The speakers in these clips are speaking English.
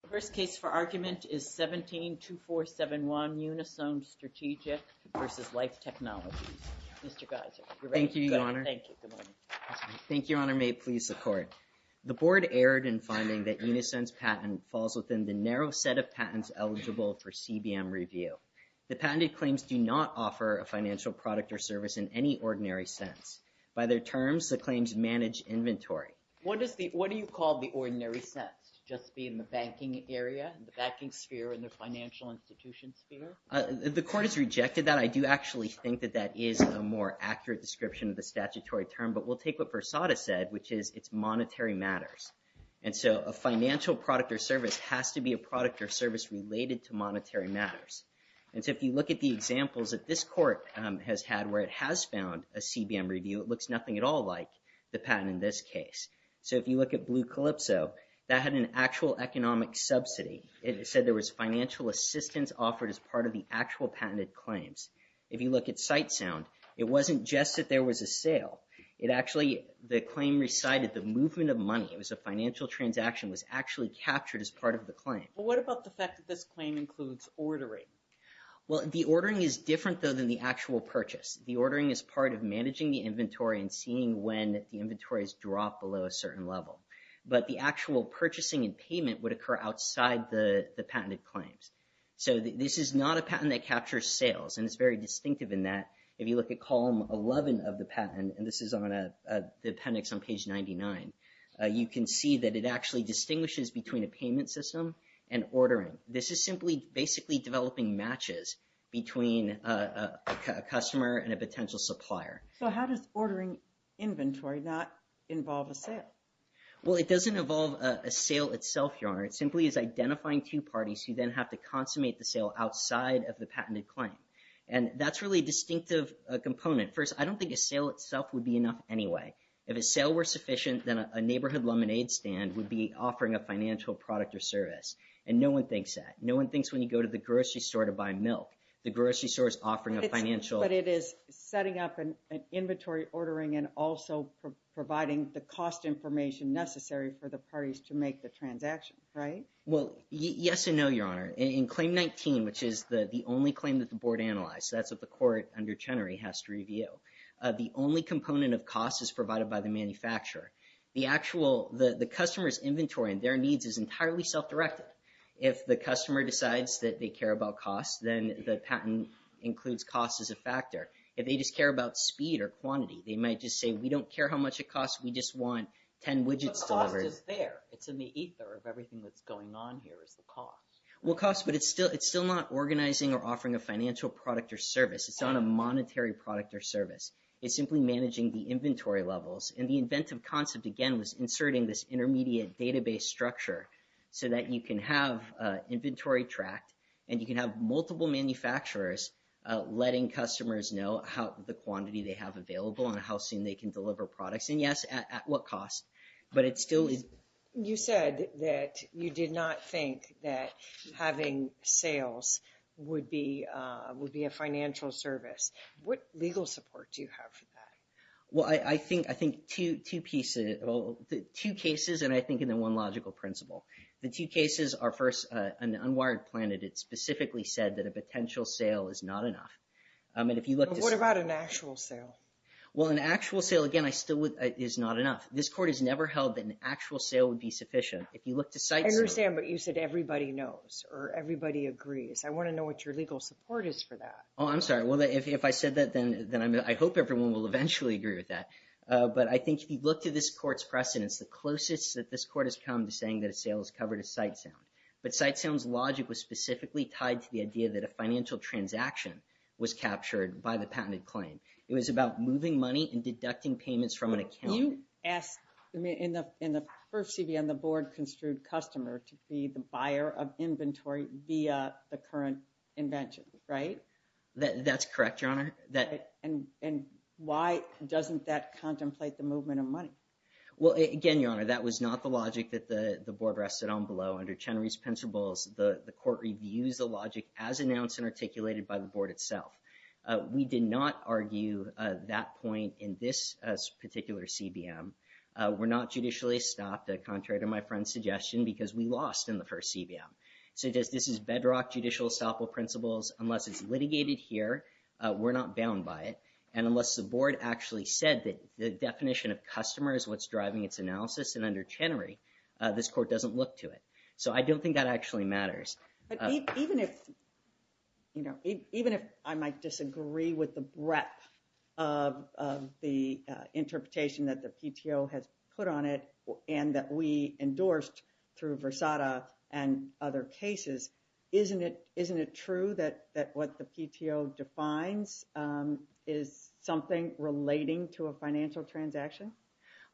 The first case for argument is 17-2471 Unisone Strategic v. Life Technologies. Mr. Geiser, you're ready? Thank you, Your Honor. Thank you. Good morning. Thank you, Your Honor. May it please the Court. The Board erred in finding that Unisense patent falls within the narrow set of patents eligible for CBM review. The patented claims do not offer a financial product or service in any ordinary sense. By their terms, the claims manage inventory. What do you call the ordinary sense, just being the banking area, the banking sphere, and the financial institution sphere? The Court has rejected that. I do actually think that that is a more accurate description of the statutory term, but we'll take what Versada said, which is it's monetary matters. And so a financial product or service has to be a product or service related to monetary matters. And so if you look at the examples that this Court has had where it has found a CBM review, it looks nothing at all like the patent in this case. So if you look at Blue Calypso, that had an actual economic subsidy. It said there was financial assistance offered as part of the actual patented claims. If you look at SightSound, it wasn't just that there was a sale. It actually, the claim recited the movement of money. It was a financial transaction that was actually captured as part of the claim. Well, what about the fact that this claim includes ordering? Well, the ordering is different, though, than the actual purchase. The ordering is part of managing the inventory and seeing when the inventories drop below a certain level. But the actual purchasing and payment would occur outside the patented claims. So this is not a patent that captures sales, and it's very distinctive in that if you look at column 11 of the patent, and this is on the appendix on page 99, you can see that it actually distinguishes between a payment system and ordering. This is simply basically developing matches between a customer and a potential supplier. So how does ordering inventory not involve a sale? Well, it doesn't involve a sale itself, Your Honor. It simply is identifying two parties who then have to consummate the sale outside of the patented claim. And that's really a distinctive component. First, I don't think a sale itself would be enough anyway. If a sale were sufficient, then a neighborhood lemonade stand would be No one thinks when you go to the grocery store to buy milk. The grocery store is offering a financial... But it is setting up an inventory ordering and also providing the cost information necessary for the parties to make the transaction, right? Well, yes and no, Your Honor. In Claim 19, which is the only claim that the board analyzed, that's what the court under Chenery has to review. The only component of cost is provided by the manufacturer. The actual, the customer's inventory and their needs is entirely self-directed. If the customer decides that they care about cost, then the patent includes cost as a factor. If they just care about speed or quantity, they might just say, we don't care how much it costs. We just want 10 widgets delivered. The cost is there. It's in the ether of everything that's going on here is the cost. Well, cost, but it's still not organizing or offering a financial product or service. It's not a monetary product or service. It's simply managing the inventory levels. And the inventive concept, again, was inserting this intermediate database structure so that you can have inventory tracked and you can have multiple manufacturers letting customers know how the quantity they have available and how soon they can deliver products. And yes, at what cost, but it still is... You said that you did not think that having sales would be a financial service. What legal support do you have for that? Well, I think two pieces, two cases, and I think in the one logical principle. The two cases are first an unwired plan that it specifically said that a potential sale is not enough. And if you look... What about an actual sale? Well, an actual sale, again, is not enough. This court has never held that an actual sale would be sufficient. If you look to sites... I understand, but you said everybody knows or everybody agrees. I want to know what your legal support is for that. I'm sorry. If I said that, then I hope everyone will eventually agree with that. But I think if you look to this court's precedents, the closest that this court has come to saying that a sale is covered is Sitesound. But Sitesound's logic was specifically tied to the idea that a financial transaction was captured by the patented claim. It was about moving money and deducting payments from an account. You asked in the first CV on the board construed customer to be the buyer of inventory via the current invention, right? That's correct, Your Honor. And why doesn't that contemplate the movement of money? Well, again, Your Honor, that was not the logic that the board rested on below. Under Chenery's principles, the court reviews the logic as announced and articulated by the board itself. We did not argue that point in this particular CBM. We're not judicially stopped, contrary to my friend's suggestion, because we lost in the first CBM. So this is bedrock judicial estoppel principles. Unless it's litigated here, we're not bound by it. And unless the board actually said that the definition of customer is what's driving its analysis, and under Chenery, this court doesn't look to it. So I don't think that actually matters. But even if I might disagree with the breadth of the interpretation that the PTO has put on it and that we endorsed through Versada and other cases, isn't it true that what the PTO defines is something relating to a financial transaction?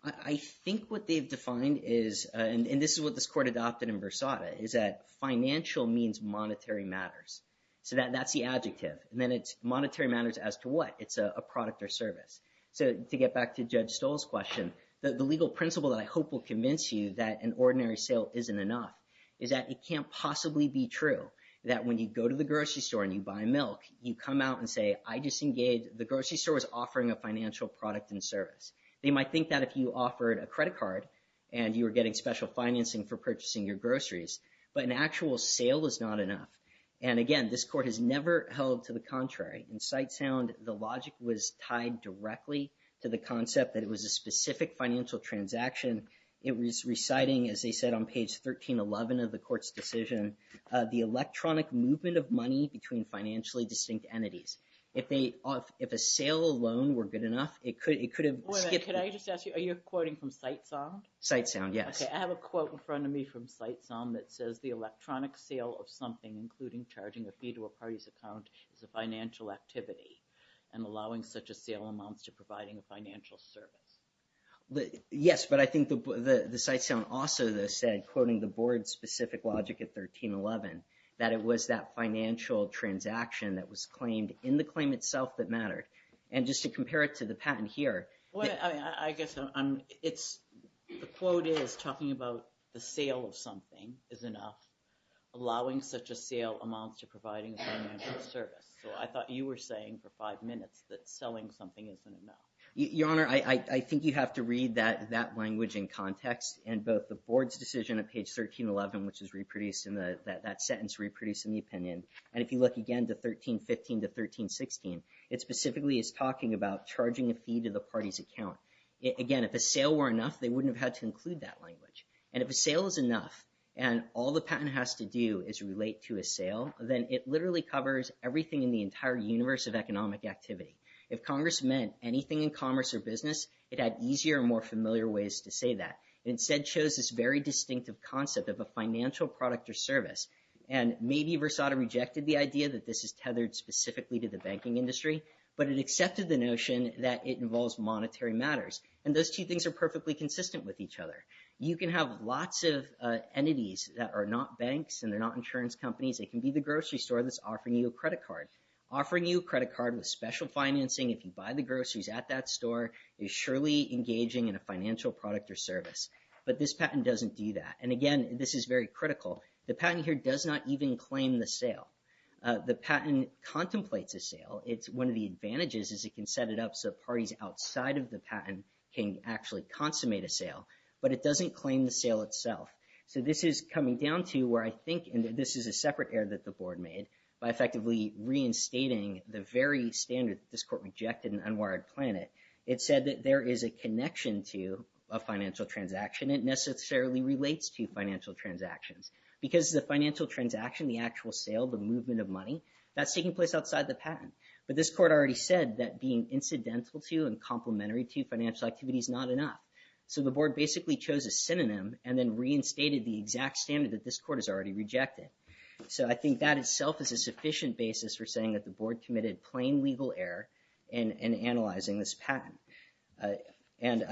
I think what they've defined is, and this is what this court adopted in Versada, is that financial means monetary matters. So that's the adjective. And then it's monetary matters as to what? It's a product or service. So to get back to Judge Stoll's question, the legal principle that I hope will convince you that an ordinary sale isn't enough is that it can't possibly be true that when you go to the grocery store and you buy milk, you come out and say, I just engaged, the grocery store was offering a financial product and service. They might think that if you offered a credit card and you were getting special financing for purchasing your groceries, but an actual sale is not enough. And again, this court has never held to the contrary. In Sitesound, the logic was tied directly to the concept that it was a specific financial transaction. It was reciting, as they said on page 1311 of the court's decision, the electronic movement of money between financially distinct entities. If a sale alone were good enough, it could have skipped. Can I just ask you, are you quoting from Sitesound? Sitesound, yes. I have a quote in front of me from Sitesound that says, the electronic sale of something, including charging a federal party's account, is a financial activity. And allowing such a sale amounts to providing a financial service. Yes, but I think the Sitesound also said, quoting the board's specific logic at 1311, that it was that financial transaction that was claimed in the claim itself that mattered. And just to compare it to the patent here. I guess the quote is talking about the sale of something is enough. Allowing such a sale amounts to providing a financial service. So I thought you were saying for five minutes that selling something isn't enough. Your Honor, I think you have to read that language in context. And both the board's decision at page 1311, which is reproduced in that sentence, reproduced in the opinion. And if you look again to 1315 to 1316, it specifically is talking about charging a fee to the party's account. Again, if a sale were enough, they wouldn't have had to include that language. And if a sale is enough, and all the patent has to do is relate to a sale, then it literally covers everything in the entire universe of economic activity. If Congress meant anything in commerce or business, it had easier and more familiar ways to say that. It instead shows this very distinctive concept of a financial product or service. And maybe Versada rejected the idea that this is tethered specifically to the banking industry, but it accepted the notion that it involves monetary matters. And those two things are perfectly consistent with each other. You can have lots of entities that are not banks and they're not insurance companies. They can be the grocery store that's offering you a credit card. Offering you a credit card with special financing if you buy the groceries at that store is surely engaging in a financial product or service. But this patent doesn't do that. And again, this is very critical. The patent here does not even claim the sale. The patent contemplates a sale. It's one of the advantages is it can set it up so parties outside of the patent can actually consummate a sale. But it doesn't claim the sale itself. So this is coming down to where I think, and this is a separate error that the board made by effectively reinstating the very standard that this court rejected in Unwired Planet. It said that there is a connection to a financial transaction. It necessarily relates to financial transactions. Because the financial transaction, the actual sale, the movement of money, that's taking place outside the patent. But this court already said that being incidental to and complementary to financial activity is not enough. So the board basically chose a synonym and then reinstated the exact standard that this court has already rejected. So I think that itself is a sufficient basis for saying that the board committed plain legal error in analyzing this patent. And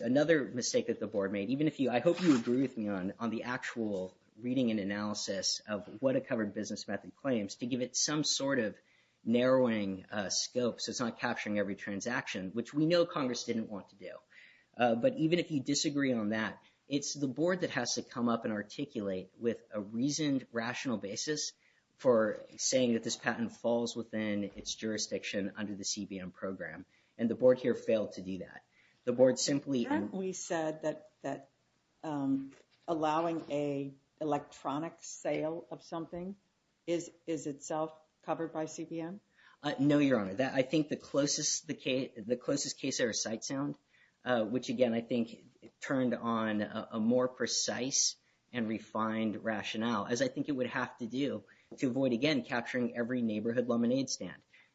another mistake that the board made, even if you, I hope you agree with me on the actual reading and analysis of what a covered business method claims to give it some sort of narrowing scope so it's not capturing every transaction, which we know Congress didn't want to do. But even if you disagree on that, it's the board that has to come up and articulate with a reasoned, rational basis for saying that this patent falls within its jurisdiction under the CBM program. And the board here failed to do that. The board simply... Haven't we said that allowing an electronic sale of something is itself covered by CBM? No, Your Honor. I think the closest case I recite sound, which again, I think turned on a more precise and refined rationale, as I think it would have to do to avoid, again, capturing every neighborhood lemonade stand.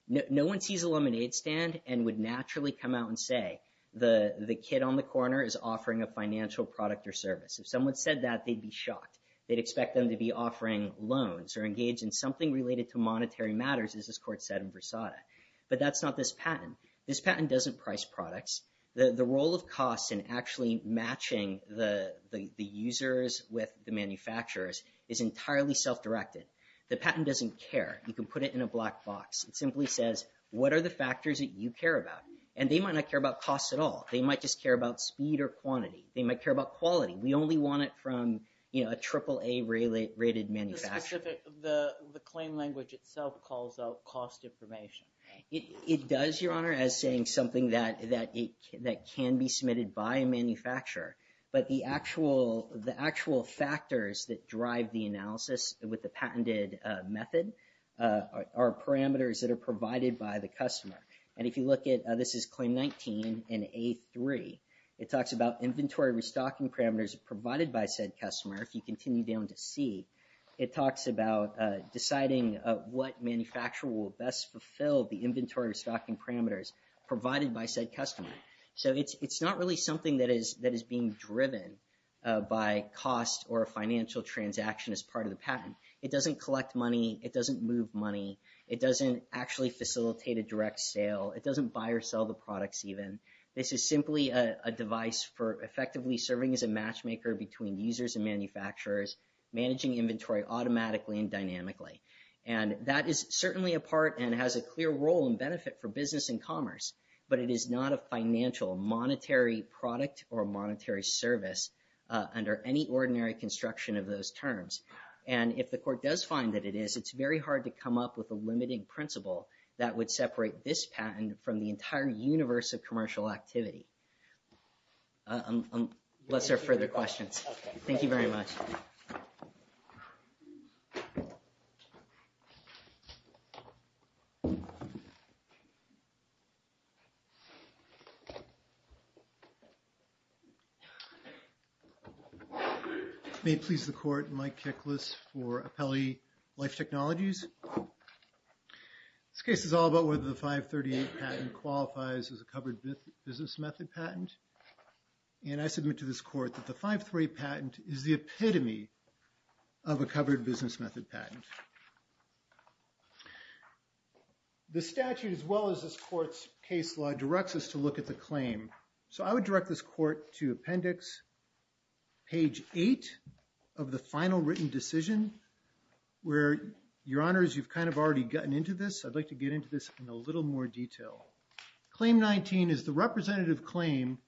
No one sees a lemonade stand and would naturally come out and say, the kid on the corner is offering a financial product or service. If someone said that, they'd be shocked. They'd expect them to be offering loans or engage in something related to monetary matters, as this court said in Versailles. But that's not this patent. This patent doesn't price products. The role of costs in actually matching the users with the manufacturers is entirely self-directed. The patent doesn't care. You can put it in a black box. It simply says, what are the factors that you care about? And they might not care about costs at all. They might just care about speed or quantity. They might care about quality. We only want it from a AAA-rated manufacturer. The claim language itself calls out cost information. It does, Your Honor, as saying something that can be submitted by a manufacturer. But the actual factors that drive the analysis with the patented method are parameters that are provided by the customer. And if you look at, this is Claim 19 in A3, it talks about inventory restocking parameters provided by said customer. If you continue down to C, it talks about deciding what manufacturer will best fulfill the inventory restocking parameters provided by said customer. So it's not really something that is being driven by cost or a financial transaction as part of the patent. It doesn't collect money. It doesn't move money. It doesn't actually facilitate a direct sale. It doesn't buy or sell the products even. This is simply a device for effectively serving as a matchmaker between users and manufacturers, managing inventory automatically and dynamically. And that is certainly a part and has a clear role and benefit for business and commerce. But it is not a financial, monetary product or monetary service under any ordinary construction of those terms. And if the court does find that it is, it's very hard to come up with a limiting principle that would separate this patent from the entire universe of commercial activity. Unless there are further questions. Thank you very much. May it please the court, Mike Keklis for Apelli Life Technologies. This case is all about whether the 538 patent qualifies as a covered business method patent. And I submit to this court that the 538 patent is the epitome of a covered business method patent. The statute as well as this court's case law directs us to look at the claim. So I would direct this court to appendix page 8 of the final written decision where, your honors, you've kind of already gotten into this. I'd like to get into this in a little more detail. Claim 19 is the representative claim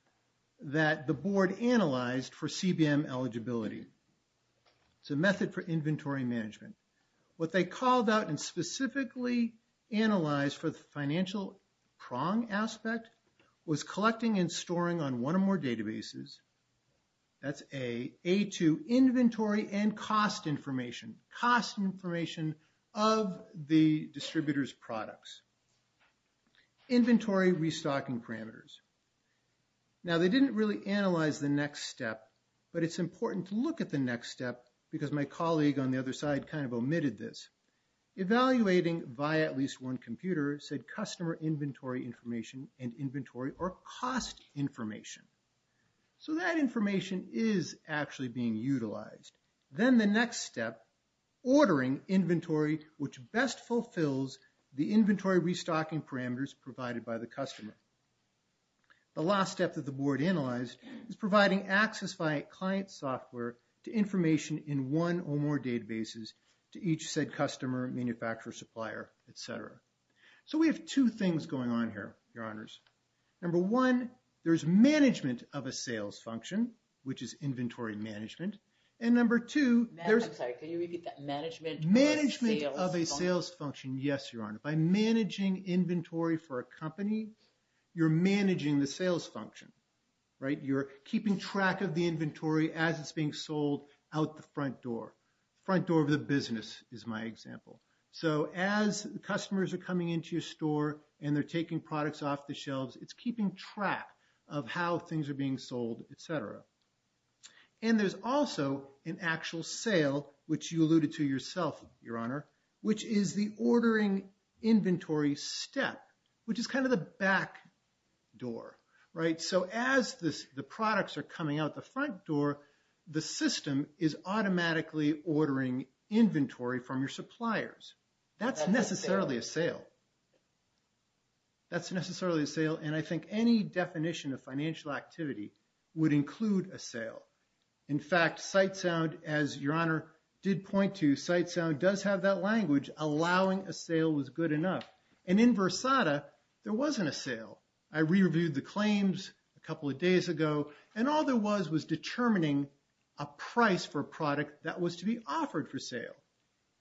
that the board analyzed for CBM eligibility. It's a method for inventory management. What they called out and specifically analyzed for the financial prong aspect was collecting and storing on one or more databases. That's A, A2, inventory and cost information. Cost information of the distributor's products. Inventory restocking parameters. Now they didn't really analyze the next step, but it's important to look at the next step because my colleague on the other side kind of omitted this. Evaluating via at least one computer said customer inventory information and inventory or cost information. So that information is actually being utilized. Then the next step, ordering inventory which best fulfills the inventory restocking parameters provided by the customer. The last step that the board analyzed is providing access by client software to information in one or more databases to each said customer, manufacturer, supplier, et cetera. So we have two things going on here, your honors. Number one, there's management of a sales function, which is inventory management. And number two, there's... I'm sorry, can you repeat that? Management of a sales function. Management of a sales function. Yes, your honor. By managing inventory for a company, you're managing the sales function, right? You're keeping track of the inventory as it's being sold out the front door. Front door of the business is my example. So as customers are coming into your store and they're taking products off the shelves, it's keeping track of how things are being sold, et cetera. And there's also an actual sale, which you alluded to yourself, your honor, which is the ordering inventory step, which is kind of the back door, right? So as the products are coming out the front door, the system is automatically ordering inventory from your suppliers. That's necessarily a sale. That's necessarily a sale. And I think any definition of financial activity would include a sale. In fact, Sitesound, as your honor did point to, Sitesound does have that language, allowing a sale was good enough. And in Versada, there wasn't a sale. I re-reviewed the claims a couple of days ago and all there was was determining a price for a product that was to be offered for sale.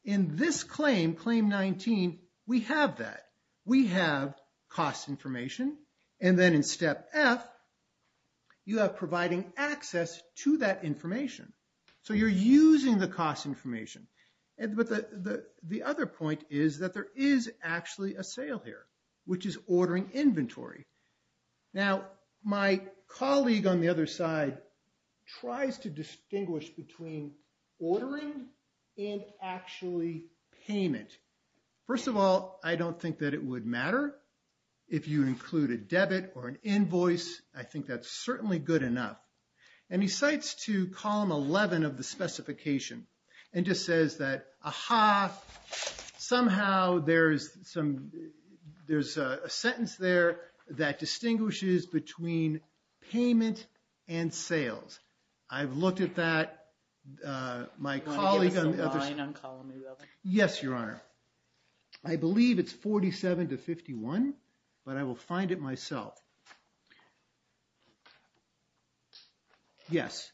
In this claim, claim 19, we have that. We have cost information. And then in step F, you have providing access to that information. So you're using the cost information. But the other point is that there is actually a sale here, which is ordering inventory. Now, my colleague on the other side tries to distinguish between ordering and actually payment. First of all, I don't think that it would matter if you include a debit or an invoice. I think that's certainly good enough. And he cites to column 11 of the specification and just says that, aha, somehow there's a sentence there that distinguishes between payment and sales. I've looked at that. My colleague on the other side. Do you want to give us a line on column 11? Yes, your honor. I believe it's 47 to 51, but I will find it myself. Yes.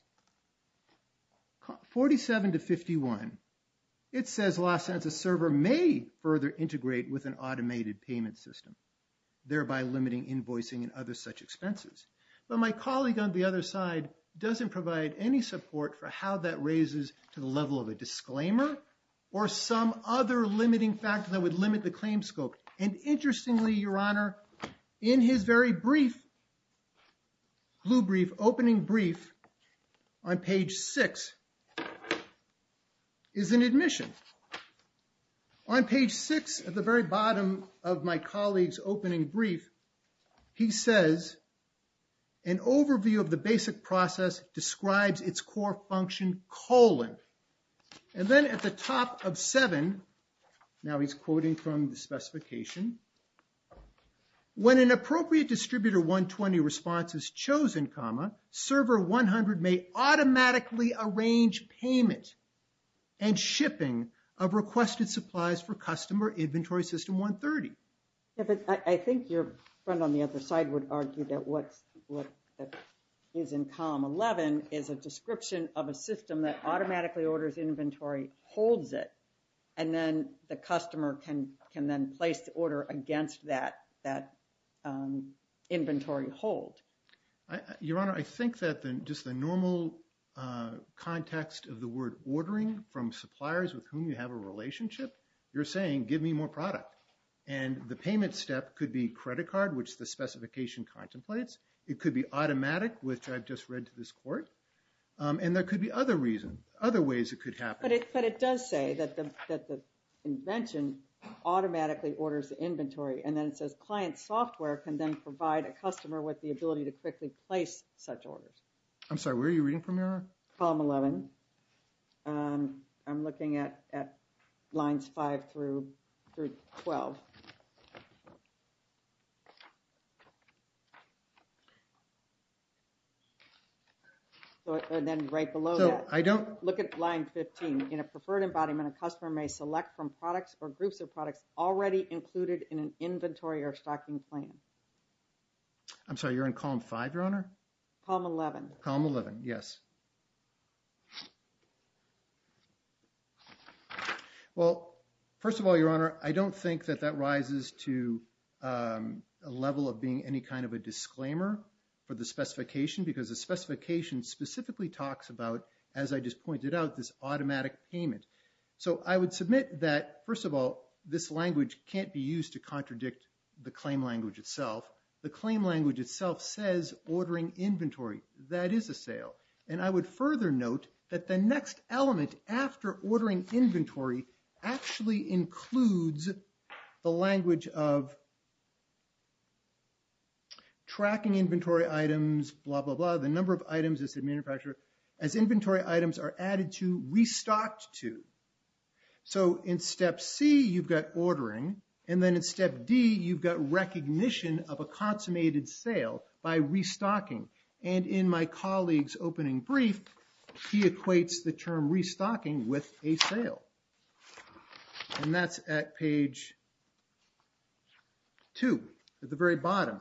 47 to 51. It says Los Angeles server may further integrate with an automated payment system, thereby limiting invoicing and other such expenses. But my colleague on the other side doesn't provide any support for how that raises to the level of a disclaimer or some other limiting factor that would limit the claim scope. And interestingly, your honor, in his very brief, blue brief, opening brief on page six is an admission. On page six at the very bottom of my colleague's opening brief, he says an overview of the basic process describes its core function, colon. And then at the top of seven, now he's quoting from the specification, when an appropriate distributor 120 response is chosen, comma, server 100 may automatically arrange payment and shipping of requested supplies for customer inventory system 130. I think your friend on the other side would argue that what is in column 11 is a description of a system that automatically orders inventory, holds it, and then the customer can then place the order against that inventory hold. Your honor, I think that just the normal context of the word ordering from suppliers with whom you have a relationship, you're saying, give me more product. And the payment step could be credit card, which the specification contemplates. It could be automatic, which I've just read to this court. And there could be other reasons, other ways it could happen. But it does say that the invention automatically orders the inventory. And then it says client software can then provide a customer with the ability to quickly place such orders. I'm sorry, where are you reading from, your honor? Column 11. I'm looking at lines 5 through 12. And then right below that. I don't. Look at line 15. In a preferred embodiment, a customer may select from products or groups of products already included in an inventory or stocking plan. I'm sorry, you're in column 5, your honor? Column 11. Column 11, yes. Well, first of all, your honor, I don't think that that rises to a level of being any kind of a disclaimer for the specification because the specification specifically talks about, as I just pointed out, this automatic payment. So I would submit that, first of all, this language can't be used to contradict the claim language itself. The claim language itself says ordering inventory. That is a sale. And I would further note that the next element after ordering inventory actually includes the language of tracking inventory items, blah, blah, blah, the number of items this manufacturer, as inventory items are added to, restocked to. So in step C, you've got ordering. And then in step D, you've got recognition of a consummated sale by restocking. And in my colleague's opening brief, he equates the term restocking with a sale. And that's at page 2, at the very bottom.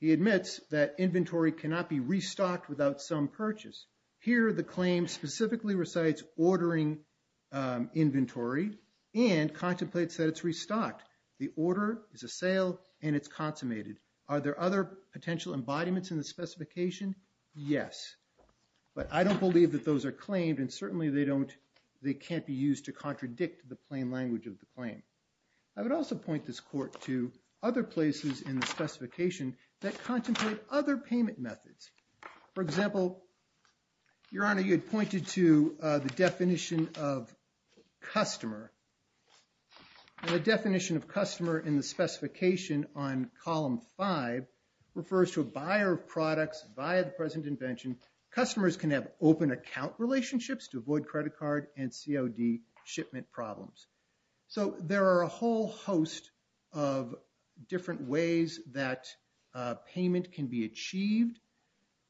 He admits that inventory cannot be restocked without some purchase. Here, the claim specifically recites ordering inventory and contemplates that it's restocked. The order is a sale and it's consummated. Are there other potential embodiments in the specification? Yes. But I don't believe that those are claimed and certainly they don't, they can't be used to contradict the plain language of the claim. I would also point this court to other places in the specification that contemplate other payment methods. For example, Your Honor, you had pointed to the definition of customer. And the definition of customer in the specification on column 5 refers to a buyer of products via the present invention. Customers can have open account relationships to avoid credit card and COD shipment problems. So there are a whole host of different ways that payment can be achieved.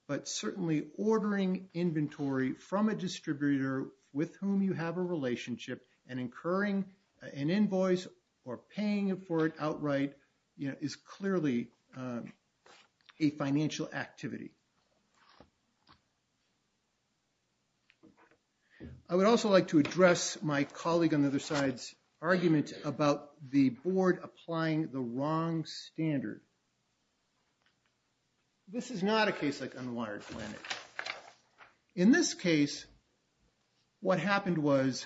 But certainly ordering inventory from a distributor with whom you have a relationship and incurring an invoice or paying for it outright, you know, is clearly a financial activity. I would also like to address my colleague on the other side's argument about the board applying the wrong standard. This is not a case like Unwired Planet. In this case, what happened was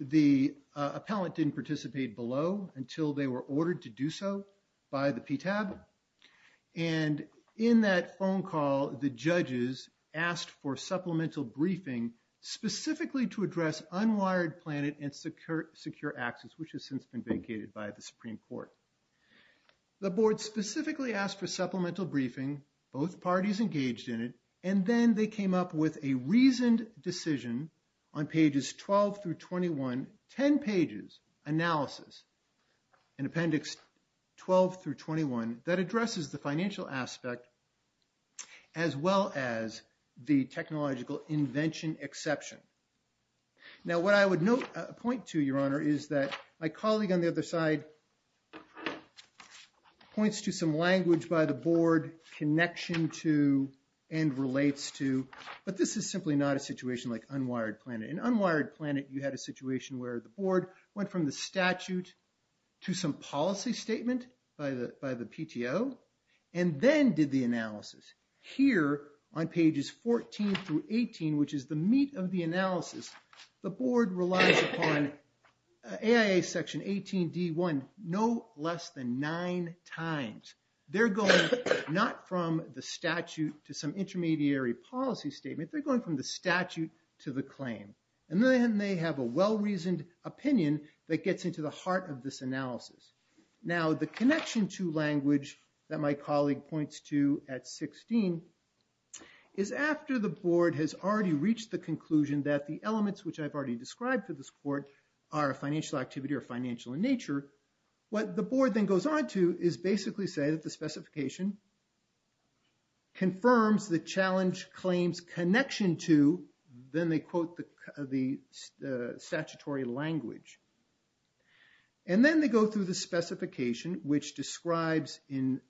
the appellant didn't participate below until they were ordered to do so by the PTAB. And in that phone call, the judges asked for supplemental briefing specifically to address Unwired Planet and Secure Access, which has since been vacated by the Supreme Court. The board specifically asked for supplemental briefing, both parties engaged in it, and then they came up with a reasoned decision on pages 12 through 21, 10 pages analysis in appendix 12 through 21 that addresses the financial aspect as well as the technological invention exception. Now, what I would point to, Your Honor, is that my colleague on the other side points to some language by the board connection to and relates to, but this is simply not a situation like Unwired Planet. In Unwired Planet, you had a situation where the board went from the statute to some policy statement by the PTO and then did the analysis. Here on pages 14 through 18, which is the meat of the analysis, the board relies upon AIA section 18D1 no less than nine times. They're going not from the statute to some intermediary policy statement, they're going from the statute to the claim. And then they have a well-reasoned opinion that gets into the heart of this analysis. Now, the connection to language that my colleague points to at 16 is after the board has already reached the conclusion that the elements, which I've already described to this court, are a financial activity or financial in nature, what the board then goes on to is basically say that the specification confirms the challenge claims connection to, then they quote the statutory language. And then they go through the specification, which describes in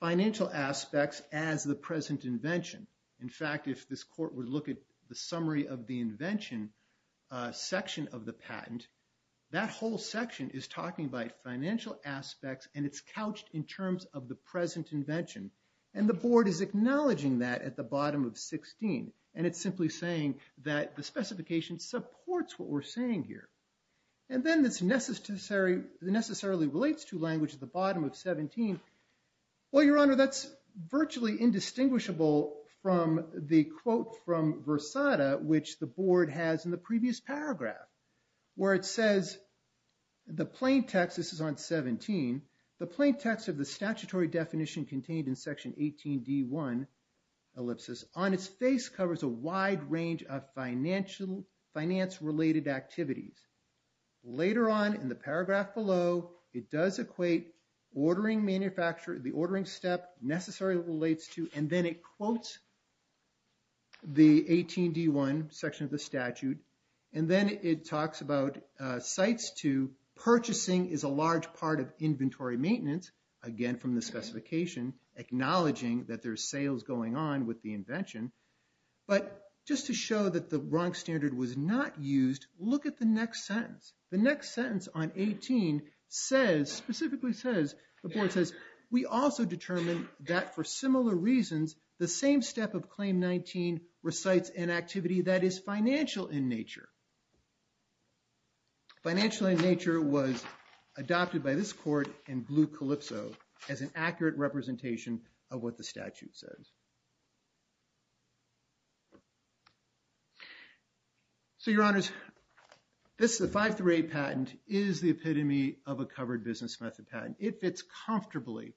financial aspects as the present invention. In fact, if this court would look at the summary of the invention section of the patent, that whole section is talking about financial aspects and it's couched in terms of the present invention. And the board is acknowledging that at the bottom of 16. And it's simply saying that the specification supports what we're saying here. And then this necessarily relates to language at the bottom of 17. Well, Your Honor, that's virtually indistinguishable from the quote from Versada, which the board has in the previous paragraph, where it says the plain text, this is on 17, the plain text of the statutory definition contained in section 18D1 ellipsis, on its face covers a wide range of finance-related activities. Later on in the paragraph below, it does equate ordering manufacturer, the ordering step necessarily relates to, and then it quotes the 18D1 section of the statute. And then it talks about sites to purchasing is a large part of inventory maintenance. Again, from the specification, acknowledging that there's sales going on with the invention. But just to show that the wrong standard was not used, look at the next sentence. The next sentence on 18 says, specifically says, the board says, we also determined that for similar reasons, the same step of claim 19 recites an activity that is financial in nature. Financial in nature was adopted by this court in blue calypso as an accurate representation of what the statute says. So your honors, this is a 538 patent is the epitome of a covered business method patent. It fits comfortably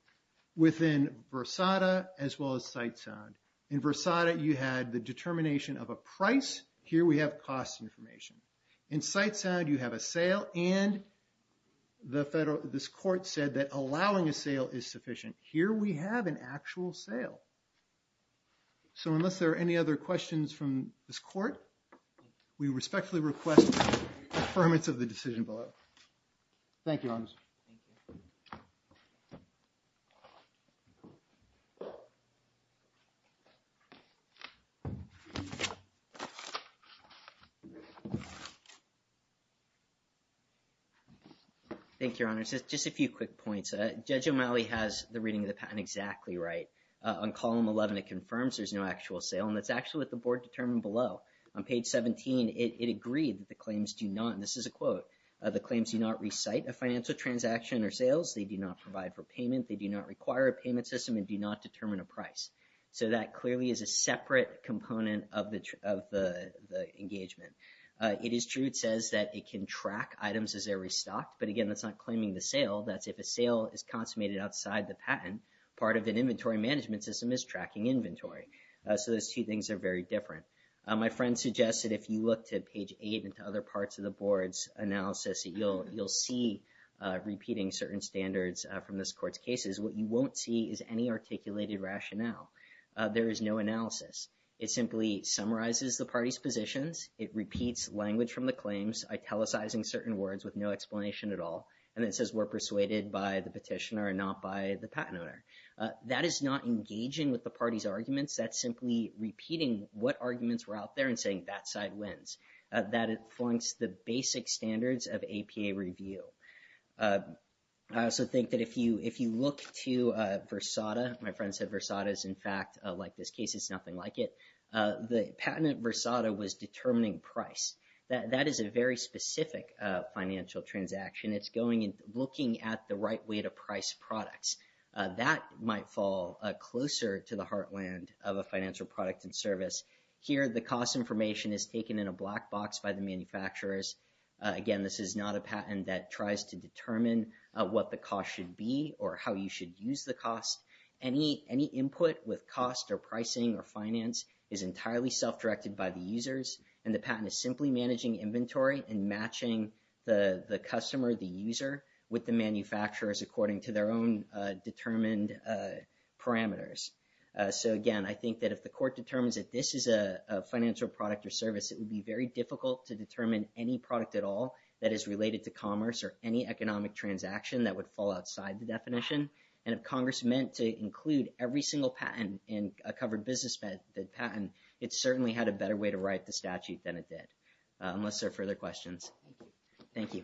within Versada as well as Sitesound. In Versada, you had the determination of a price. Here we have cost information. In Sitesound, you have a sale and this court said that allowing a sale is sufficient. Here we have an actual sale. So unless there are any other questions from this court, we respectfully request affirmance of the decision below. Thank you, your honors. Thank you, your honors. Just a few quick points. Judge O'Malley has the reading of the patent exactly right. On column 11, it confirms there's no actual sale. And that's actually what the board determined below. On page 17, it agreed that the claims do not, and this is a quote, the claims do not recite a financial transaction or sales. They do not provide for payment. They do not require a payment system and do not determine a price. So that clearly is a separate component of the engagement. It is true, it says that it can track items as they're restocked. But again, that's not claiming the sale. That's if a sale is consummated outside the patent, part of an inventory management system is tracking inventory. So those two things are very different. My friend suggested if you look to page 8 and to other parts of the board's analysis, that you'll see repeating certain standards from this court's cases. What you won't see is any articulated rationale. There is no analysis. It simply summarizes the party's positions. It repeats language from the claims, italicizing certain words with no explanation at all. And it says we're persuaded by the petitioner and not by the patent owner. That is not engaging with the party's arguments. That's simply repeating what arguments were out there and saying that side wins. That it flunks the basic standards of APA review. I also think that if you look to Versada, my friend said Versada is in fact, like this case, it's nothing like it. The patent at Versada was determining price. That is a very specific financial transaction. It's looking at the right way to price products. That might fall closer to the heartland of a financial product and service. Here, the cost information is taken in a black box by the manufacturers. Again, this is not a patent that tries to determine what the cost should be or how you should use the cost. Any input with cost or pricing or finance is entirely self-directed by the users. The patent is simply managing inventory and matching the customer, the user with the manufacturers according to their own determined parameters. So again, I think that if the court determines that this is a financial product or service, it would be very difficult to determine any product at all that is related to commerce or any economic transaction that would fall outside the definition. And if Congress meant to include every single patent in a covered business patent, it certainly had a better way to write the statute than it did. Unless there are further questions. Thank you.